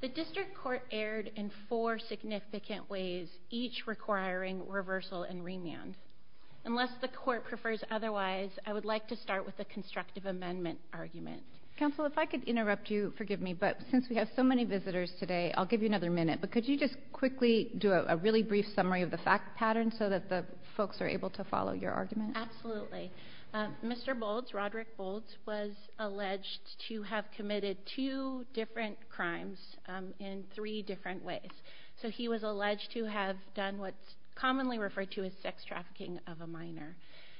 The District Court erred in four significant ways, each requiring reversal and remand. Unless the Court prefers otherwise, I would like to start with the constructive amendment argument. Counsel, if I could interrupt you, forgive me, but since we have so many visitors today, I'll give you another minute. But could you just quickly do a really brief summary of the fact pattern so that the folks are able to follow your argument? Absolutely. Mr. Bolds, Roderick Bolds, was alleged to have committed two different crimes in three different ways. So he was alleged to have done what's commonly referred to as sex trafficking of a minor.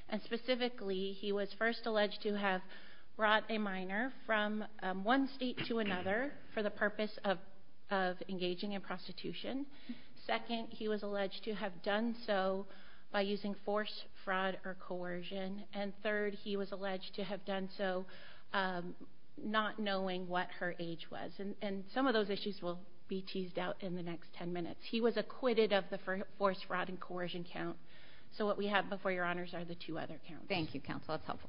And specifically, he was first alleged to have brought a minor from one state to another for the purpose of engaging in prostitution. Second, he was alleged to have done so by using force, fraud, or coercion. And third, he was alleged to have done so not knowing what her age was. And some of those issues will be teased out in the next ten minutes. He was acquitted of the force, fraud, and coercion count. So what we have before your honors are the two other counts. Thank you, Counsel. That's helpful.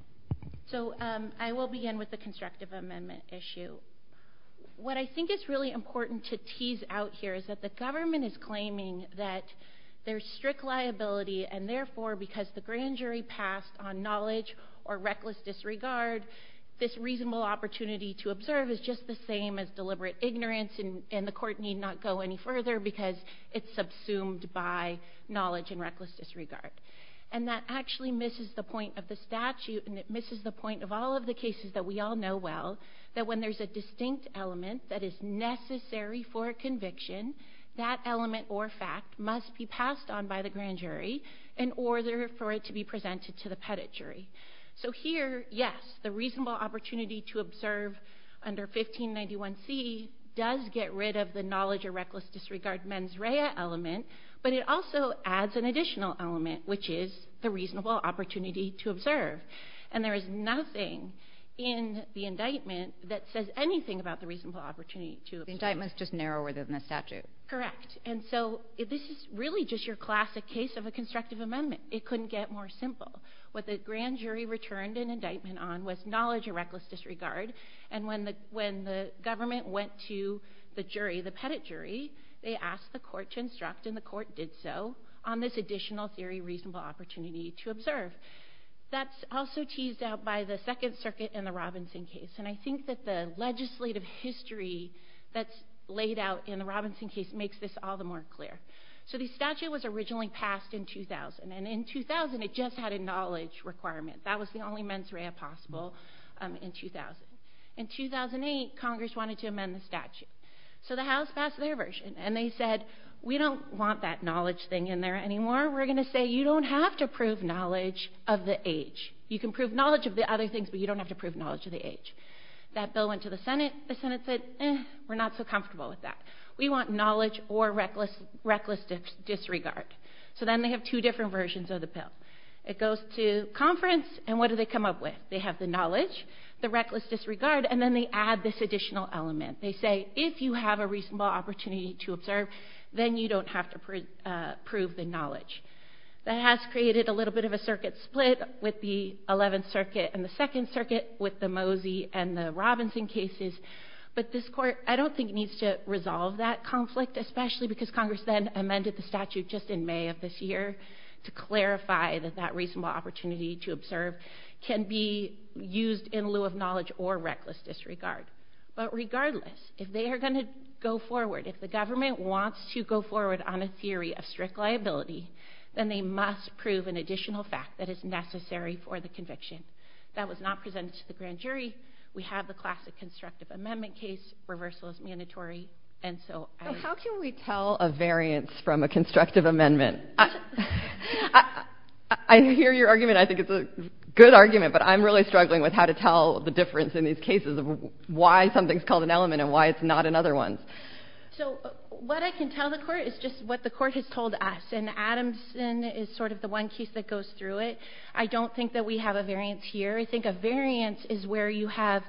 So I will begin with the constructive amendment issue. What I think is really important to tease out here is that the government is claiming that there's strict liability, and therefore, because the grand jury passed on knowledge or reckless disregard, this reasonable opportunity to observe is just the same as deliberate ignorance, and the court need not go any further because it's subsumed by knowledge and reckless disregard. And that actually misses the point of the statute, and it misses the point of all of the cases that we all know well, that when there's a distinct element that is necessary for a conviction, that element or fact must be passed on by the grand jury in order for it to be presented to the petit jury. So here, yes, the reasonable opportunity to observe under 1591C does get rid of the knowledge or reckless disregard mens rea element, but it also adds an additional element, which is the reasonable opportunity to observe. And there is nothing in the indictment that says anything about the reasonable opportunity to observe. The indictment's just narrower than the statute. Correct. And so this is really just your classic case of a constructive amendment. It couldn't get more simple. What the grand jury returned an indictment on was knowledge or reckless disregard, and when the government went to the jury, the petit jury, they asked the court to instruct, and the court did so, on this additional theory reasonable opportunity to observe. That's also teased out by the Second Circuit in the Robinson case, and I think that the legislative history that's laid out in the Robinson case makes this all the more clear. So the statute was originally passed in 2000, and in 2000, it just had a knowledge requirement. That was the only mens rea possible in 2000. In 2008, Congress wanted to amend the statute. So the House passed their version, and they said, we don't want that knowledge thing in there anymore. We're going to say, you don't have to prove knowledge of the age. You can prove knowledge of the other things, but you don't have to prove knowledge of the age. That bill went to the Senate. The Senate said, eh, we're not so comfortable with that. We want knowledge or reckless disregard. So then they have two different versions of the bill. It goes to conference, and what do they come up with? They have the knowledge, the reckless disregard, and then they add this additional element. They say, if you have a reasonable opportunity to observe, then you don't have to prove the age. That has created a little bit of a circuit split with the 11th Circuit and the 2nd Circuit with the Mosey and the Robinson cases, but this Court, I don't think, needs to resolve that conflict, especially because Congress then amended the statute just in May of this year to clarify that that reasonable opportunity to observe can be used in lieu of knowledge or reckless disregard. But regardless, if they are going to go forward, if the government wants to go forward on a specific liability, then they must prove an additional fact that is necessary for the conviction. That was not presented to the grand jury. We have the classic constructive amendment case, reversal is mandatory. And so I— So how can we tell a variance from a constructive amendment? I hear your argument. I think it's a good argument, but I'm really struggling with how to tell the difference in these cases of why something's called an element and why it's not in other ones. So what I can tell the Court is just what the Court has told us, and Adamson is sort of the one case that goes through it. I don't think that we have a variance here. I think a variance is where you have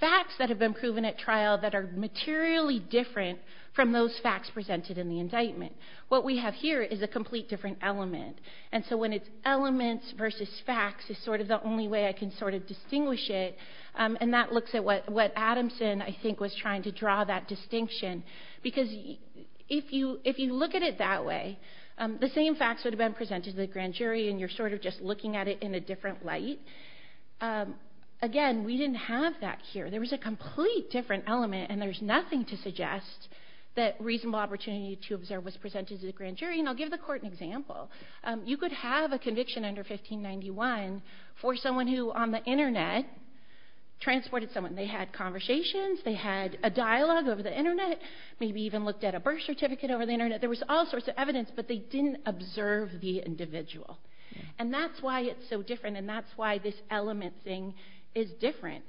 facts that have been proven at trial that are materially different from those facts presented in the indictment. What we have here is a complete different element. And so when it's elements versus facts is sort of the only way I can sort of distinguish it. And that looks at what Adamson, I think, was trying to draw that distinction. Because if you look at it that way, the same facts would have been presented to the grand jury, and you're sort of just looking at it in a different light. Again, we didn't have that here. There was a complete different element, and there's nothing to suggest that reasonable opportunity to observe was presented to the grand jury, and I'll give the Court an example. You could have a conviction under 1591 for someone who on the Internet transported someone. They had conversations, they had a dialogue over the Internet, maybe even looked at a birth certificate over the Internet. There was all sorts of evidence, but they didn't observe the individual. And that's why it's so different, and that's why this element thing is different.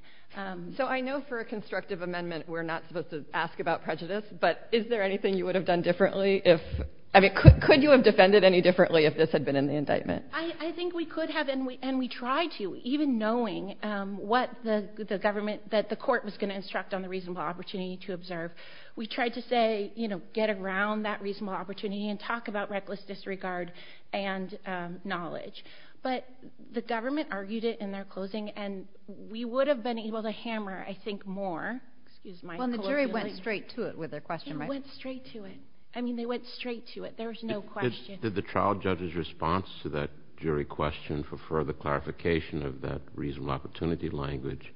So I know for a constructive amendment we're not supposed to ask about prejudice, but is there anything you would have done differently if – I mean, could you have defended any differently if this had been in the indictment? I think we could have, and we tried to, even knowing what the government – that the Court was going to instruct on the reasonable opportunity to observe. We tried to say, you know, get around that reasonable opportunity and talk about reckless disregard and knowledge. But the government argued it in their closing, and we would have been able to hammer, I think, more – excuse my colloquial language. Well, and the jury went straight to it with their question, right? Yeah, it went straight to it. I mean, they went straight to it. There was no question. When did – did the trial judge's response to that jury question for further clarification of that reasonable opportunity language,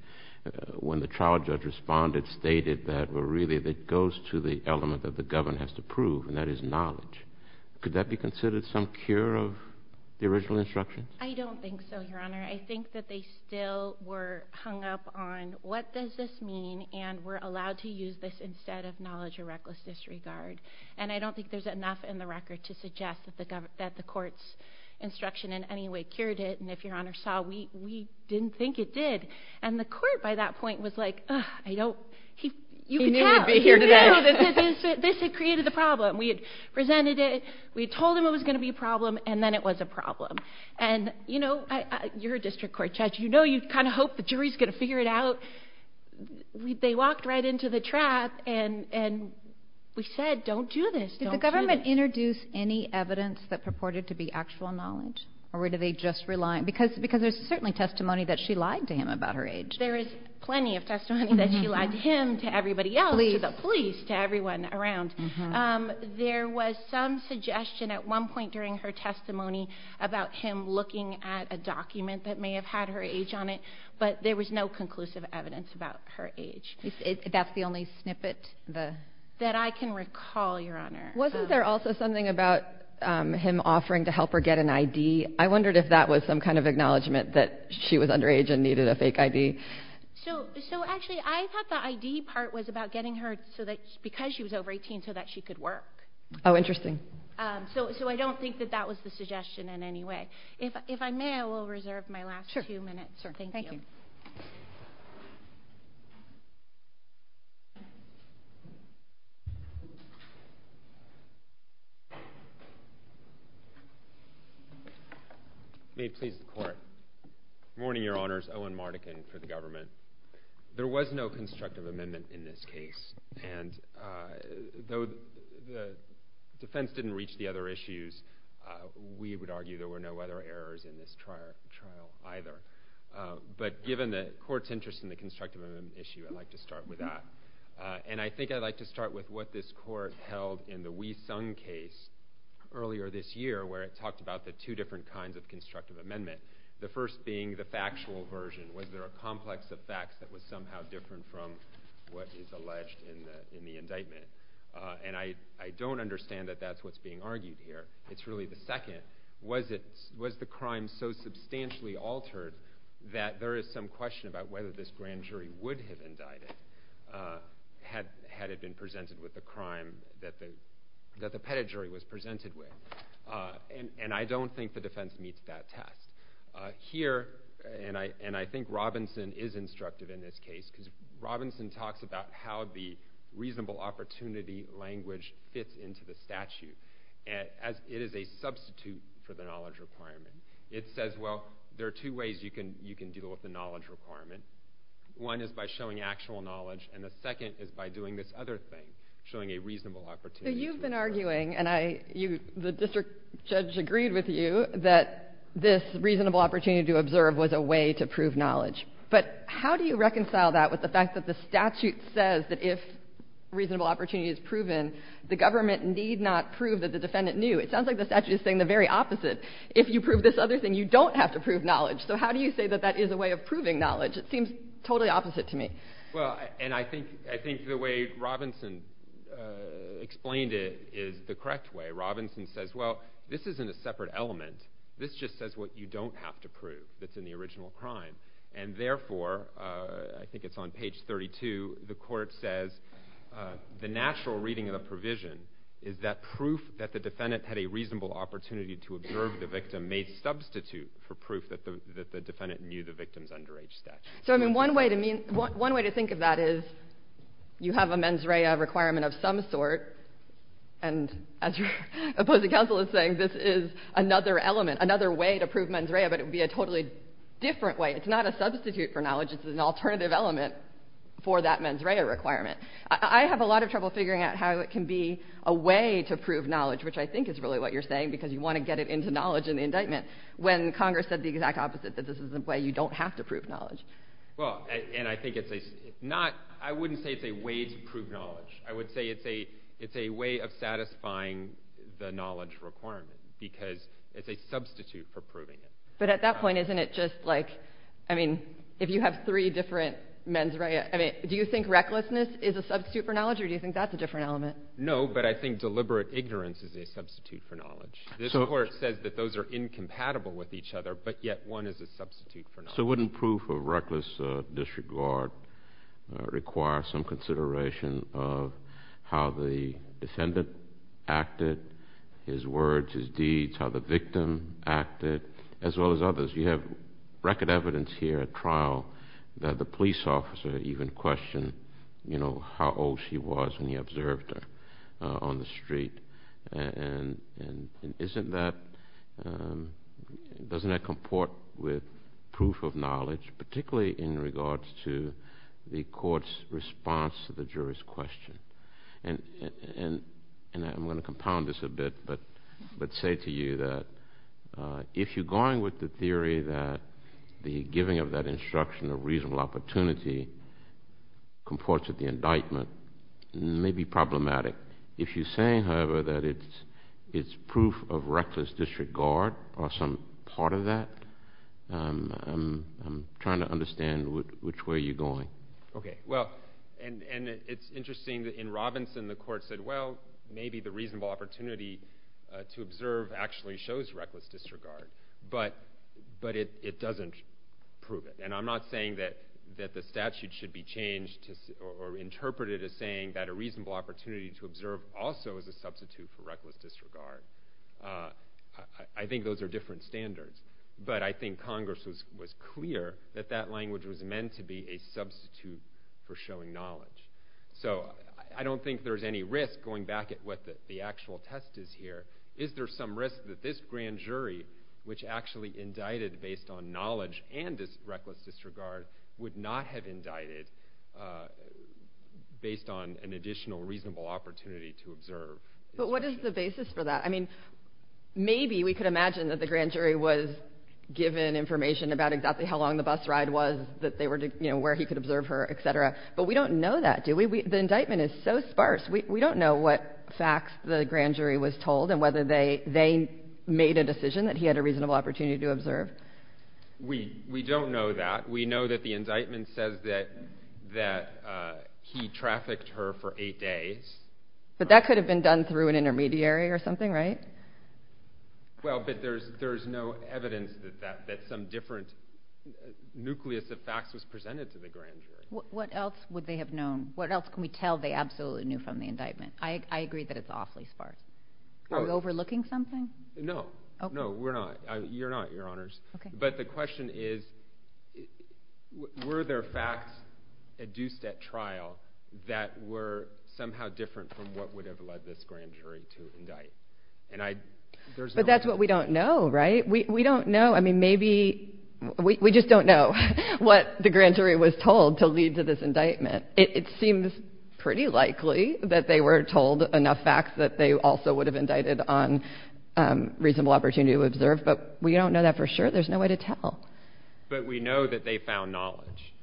when the trial judge responded, stated that really it goes to the element that the government has to prove, and that is knowledge. Could that be considered some cure of the original instructions? I don't think so, Your Honor. I think that they still were hung up on what does this mean, and we're allowed to use this instead of knowledge or reckless disregard. And I don't think there's enough in the record to suggest that the court's instruction in any way cured it, and if Your Honor saw, we didn't think it did. And the court, by that point, was like, ugh, I don't – you can tell. He knew he'd be here today. He knew that this had created the problem. We had presented it. We had told him it was going to be a problem, and then it was a problem. And you know, you're a district court judge. You know you kind of hope the jury's going to figure it out. So they walked right into the trap, and we said, don't do this. Don't do this. Did the government introduce any evidence that purported to be actual knowledge, or were they just relying – because there's certainly testimony that she lied to him about her age. There is plenty of testimony that she lied to him, to everybody else, to the police, to everyone around. There was some suggestion at one point during her testimony about him looking at a document that may have had her age on it, but there was no conclusive evidence about her age. That's the only snippet that – That I can recall, Your Honor. Wasn't there also something about him offering to help her get an ID? I wondered if that was some kind of acknowledgment that she was underage and needed a fake ID. So actually, I thought the ID part was about getting her so that – because she was over 18, so that she could work. Oh, interesting. So I don't think that that was the suggestion in any way. If I may, I will reserve my last few minutes. Sure. Thank you. May it please the Court. Good morning, Your Honors. Owen Mardikin for the government. There was no constructive amendment in this case, and though the defense didn't reach the other issues, we would argue there were no other errors in this trial either. But given the Court's interest in the constructive amendment issue, I'd like to start with that. And I think I'd like to start with what this Court held in the Wee Sung case earlier this year, where it talked about the two different kinds of constructive amendment, the first being the factual version. Was there a complex of facts that was somehow different from what is alleged in the indictment? And I don't understand that that's what's being argued here. It's really the second. Was the crime so substantially altered that there is some question about whether this grand jury would have indicted, had it been presented with the crime that the pettit jury was presented with? And I don't think the defense meets that test. Here, and I think Robinson is instructive in this case, because Robinson talks about how the reasonable opportunity language fits into the statute, as it is a substitute for the knowledge requirement. It says, well, there are two ways you can deal with the knowledge requirement. One is by showing actual knowledge, and the second is by doing this other thing, showing a reasonable opportunity. So you've been arguing, and the district judge agreed with you, that this reasonable opportunity to observe was a way to prove knowledge. But how do you reconcile that with the fact that the statute says that if reasonable opportunity is proven, the government need not prove that the defendant knew? It sounds like the statute is saying the very opposite. If you prove this other thing, you don't have to prove knowledge. So how do you say that that is a way of proving knowledge? It seems totally opposite to me. Well, and I think the way Robinson explained it is the correct way. Robinson says, well, this isn't a separate element. This just says what you don't have to prove that's in the original crime. And therefore, I think it's on page 32, the court says, the natural reading of the provision is that proof that the defendant had a reasonable opportunity to observe the victim may substitute for proof that the defendant knew the victim's underage statute. So, I mean, one way to think of that is you have a mens rea requirement of some sort, and as your opposing counsel is saying, this is another element, another way to prove mens rea, but it would be a totally different way. It's not a substitute for knowledge. It's an alternative element for that mens rea requirement. I have a lot of trouble figuring out how it can be a way to prove knowledge, which I think is really what you're saying because you want to get it into knowledge in the indictment when Congress said the exact opposite, that this is a way you don't have to prove knowledge. Well, and I think it's not – I wouldn't say it's a way to prove knowledge. I would say it's a way of satisfying the knowledge requirement because it's a substitute for proving it. But at that point, isn't it just like, I mean, if you have three different mens rea, do you think recklessness is a substitute for knowledge, or do you think that's a different element? No, but I think deliberate ignorance is a substitute for knowledge. This Court says that those are incompatible with each other, but yet one is a substitute for knowledge. So wouldn't proof of reckless disregard require some consideration of how the defendant acted, his words, his deeds, how the victim acted, as well as others? You have record evidence here at trial that the police officer even questioned, you know, how old she was when he observed her on the street. And isn't that – doesn't that comport with proof of knowledge, particularly in regards to the Court's response to the jury's question? And I'm going to compound this a bit, but say to you that if you're going with the theory that the giving of that instruction or reasonable opportunity comports with the indictment, it may be problematic. If you're saying, however, that it's proof of reckless disregard or some part of that, I'm trying to understand which way you're going. Okay, well, and it's interesting that in Robinson the Court said, well, maybe the reasonable opportunity to observe actually shows reckless disregard, but it doesn't prove it. And I'm not saying that the statute should be changed or interpreted as saying that a reasonable opportunity to observe also is a substitute for reckless disregard. I think those are different standards. But I think Congress was clear that that language was meant to be a substitute for showing knowledge. So I don't think there's any risk going back at what the actual test is here. Is there some risk that this grand jury, which actually indicted based on knowledge and reckless disregard, would not have indicted based on an additional reasonable opportunity to observe? But what is the basis for that? I mean, maybe we could imagine that the grand jury was given information about exactly how long the bus ride was, where he could observe her, et cetera. But we don't know that, do we? The indictment is so sparse. We don't know what facts the grand jury was told and whether they made a decision that he had a reasonable opportunity to observe. We don't know that. We know that the indictment says that he trafficked her for eight days. But that could have been done through an intermediary or something, right? Well, but there's no evidence that some different nucleus of facts was presented to the grand jury. What else would they have known? What else can we tell they absolutely knew from the indictment? I agree that it's awfully sparse. Are we overlooking something? No, we're not. You're not, Your Honors. But the question is, were there facts induced at trial that were somehow different from what would have led this grand jury to indict? But that's what we don't know, right? We don't know. I mean, maybe we just don't know what the grand jury was told to lead to this indictment. It seems pretty likely that they were told enough facts that they also would have indicted on reasonable opportunity to observe. But we don't know that for sure. There's no way to tell. But we know that they found knowledge.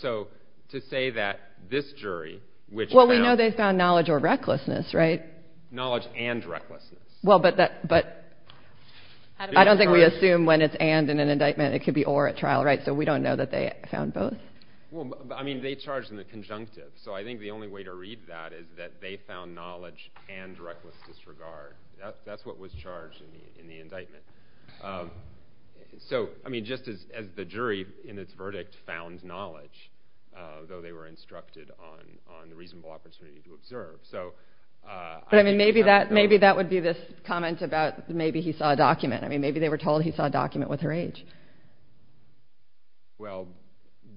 So to say that this jury, which found— Well, we know they found knowledge or recklessness, right? Knowledge and recklessness. Well, but I don't think we assume when it's and in an indictment it could be or at trial, right? So we don't know that they found both? Well, I mean, they charged in the conjunctive. So I think the only way to read that is that they found knowledge and reckless disregard. That's what was charged in the indictment. So, I mean, just as the jury in its verdict found knowledge, though they were instructed on the reasonable opportunity to observe. So— But, I mean, maybe that would be this comment about maybe he saw a document. I mean, maybe they were told he saw a document with her age. Well,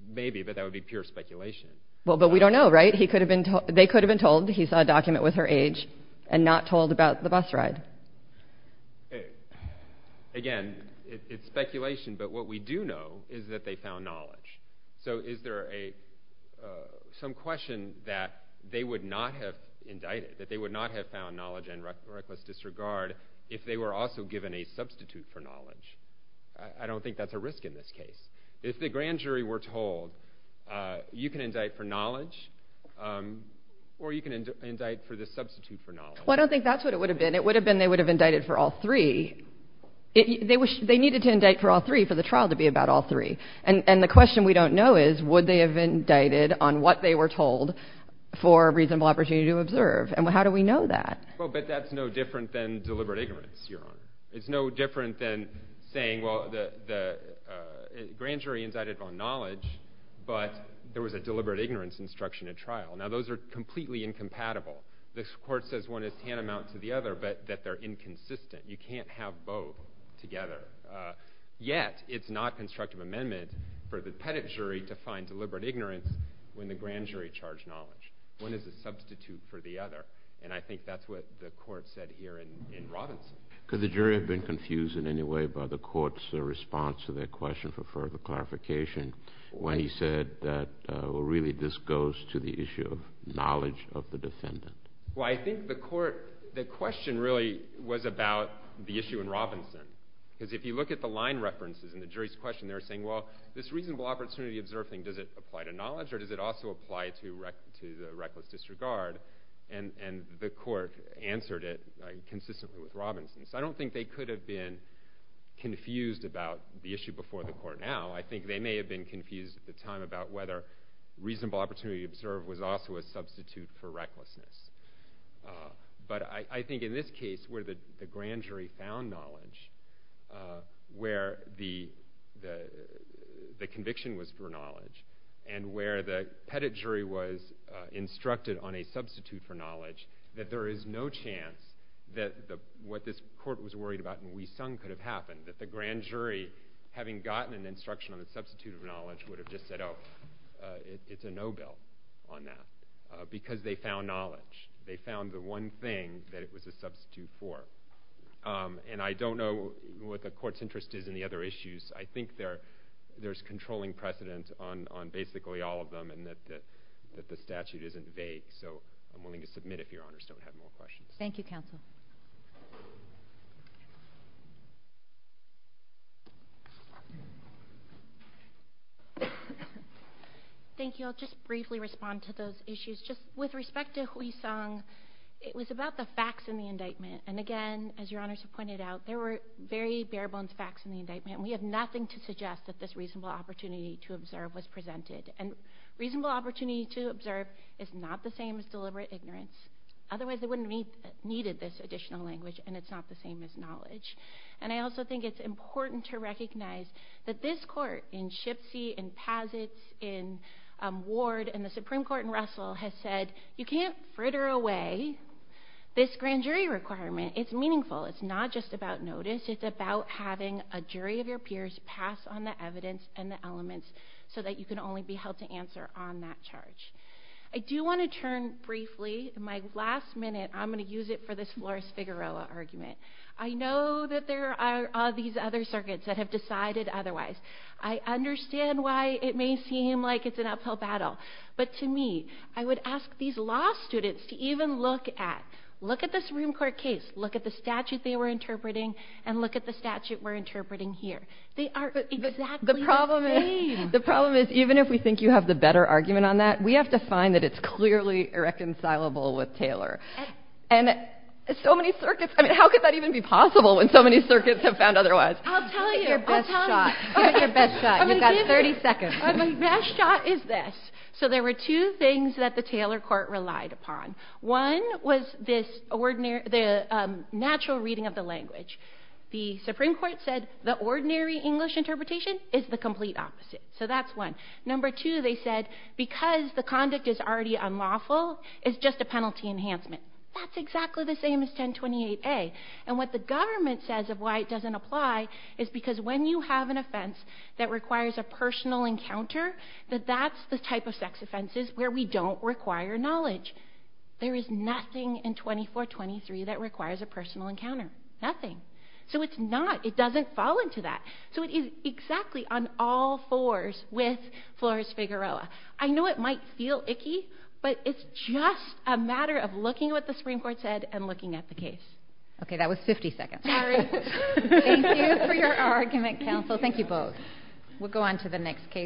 maybe, but that would be pure speculation. Well, but we don't know, right? They could have been told he saw a document with her age and not told about the bus ride. Again, it's speculation, but what we do know is that they found knowledge. So is there some question that they would not have indicted, that they would not have found knowledge and reckless disregard if they were also given a substitute for knowledge? I don't think that's a risk in this case. If the grand jury were told, you can indict for knowledge or you can indict for the substitute for knowledge. Well, I don't think that's what it would have been. It would have been they would have indicted for all three. They needed to indict for all three for the trial to be about all three. And the question we don't know is, would they have indicted on what they were told for reasonable opportunity to observe? And how do we know that? It's no different than saying, well, the grand jury indicted on knowledge, but there was a deliberate ignorance instruction at trial. Now, those are completely incompatible. This court says one is tantamount to the other, but that they're inconsistent. You can't have both together. Yet, it's not constructive amendment for the pettit jury to find deliberate ignorance when the grand jury charged knowledge. One is a substitute for the other, and I think that's what the court said here in Robinson. Could the jury have been confused in any way by the court's response to their question for further clarification when he said that, well, really this goes to the issue of knowledge of the defendant? Well, I think the court, the question really was about the issue in Robinson. Because if you look at the line references in the jury's question, they were saying, well, this reasonable opportunity observed thing, does it apply to knowledge or does it also apply to the reckless disregard? And the court answered it consistently with Robinson. So I don't think they could have been confused about the issue before the court now. I think they may have been confused at the time about whether reasonable opportunity observed was also a substitute for recklessness. But I think in this case where the grand jury found knowledge, where the conviction was for knowledge, and where the pettit jury was instructed on a substitute for knowledge, that there is no chance that what this court was worried about in Wee Sung could have happened, that the grand jury, having gotten an instruction on the substitute of knowledge, would have just said, oh, it's a no bill on that. Because they found knowledge. They found the one thing that it was a substitute for. And I don't know what the court's interest is in the other issues. I think there's controlling precedence on basically all of them and that the statute isn't vague. So I'm willing to submit if Your Honors don't have more questions. Thank you, counsel. Thank you. I'll just briefly respond to those issues. Just with respect to Wee Sung, it was about the facts in the indictment. And again, as Your Honors have pointed out, there were very bare bones facts in the indictment. We have nothing to suggest that this reasonable opportunity to observe was presented. And reasonable opportunity to observe is not the same as deliberate ignorance. Otherwise, they wouldn't have needed this additional language, and it's not the same as knowledge. And I also think it's important to recognize that this court in Shipsey, in Pazitz, in Ward, and the Supreme Court in Russell has said, you can't fritter away this grand jury requirement. It's meaningful. It's not just about notice. It's about having a jury of your peers pass on the evidence and the elements so that you can only be held to answer on that charge. I do want to turn briefly, my last minute, I'm going to use it for this Flores-Figueroa argument. I know that there are these other circuits that have decided otherwise. I understand why it may seem like it's an uphill battle. But to me, I would ask these law students to even look at, look at the Supreme Court case, look at the statute they were interpreting, and look at the statute we're interpreting here. They are exactly the same. The problem is even if we think you have the better argument on that, we have to find that it's clearly irreconcilable with Taylor. And so many circuits, I mean, how could that even be possible when so many circuits have found otherwise? I'll tell you. Give it your best shot. Give it your best shot. You've got 30 seconds. My best shot is this. So there were two things that the Taylor court relied upon. One was the natural reading of the language. The Supreme Court said the ordinary English interpretation is the complete opposite. So that's one. Number two, they said because the conduct is already unlawful, it's just a penalty enhancement. That's exactly the same as 1028A. And what the government says of why it doesn't apply is because when you have an offense that requires a personal encounter, that that's the type of sex offenses where we don't require knowledge. There is nothing in 2423 that requires a personal encounter. Nothing. So it's not, it doesn't fall into that. So it is exactly on all fours with Flores-Figueroa. I know it might feel icky, but it's just a matter of looking at what the Supreme Court said and looking at the case. Okay. That was 50 seconds. Sorry. Thank you for your argument, counsel. Thank you both. We'll go on to the next case.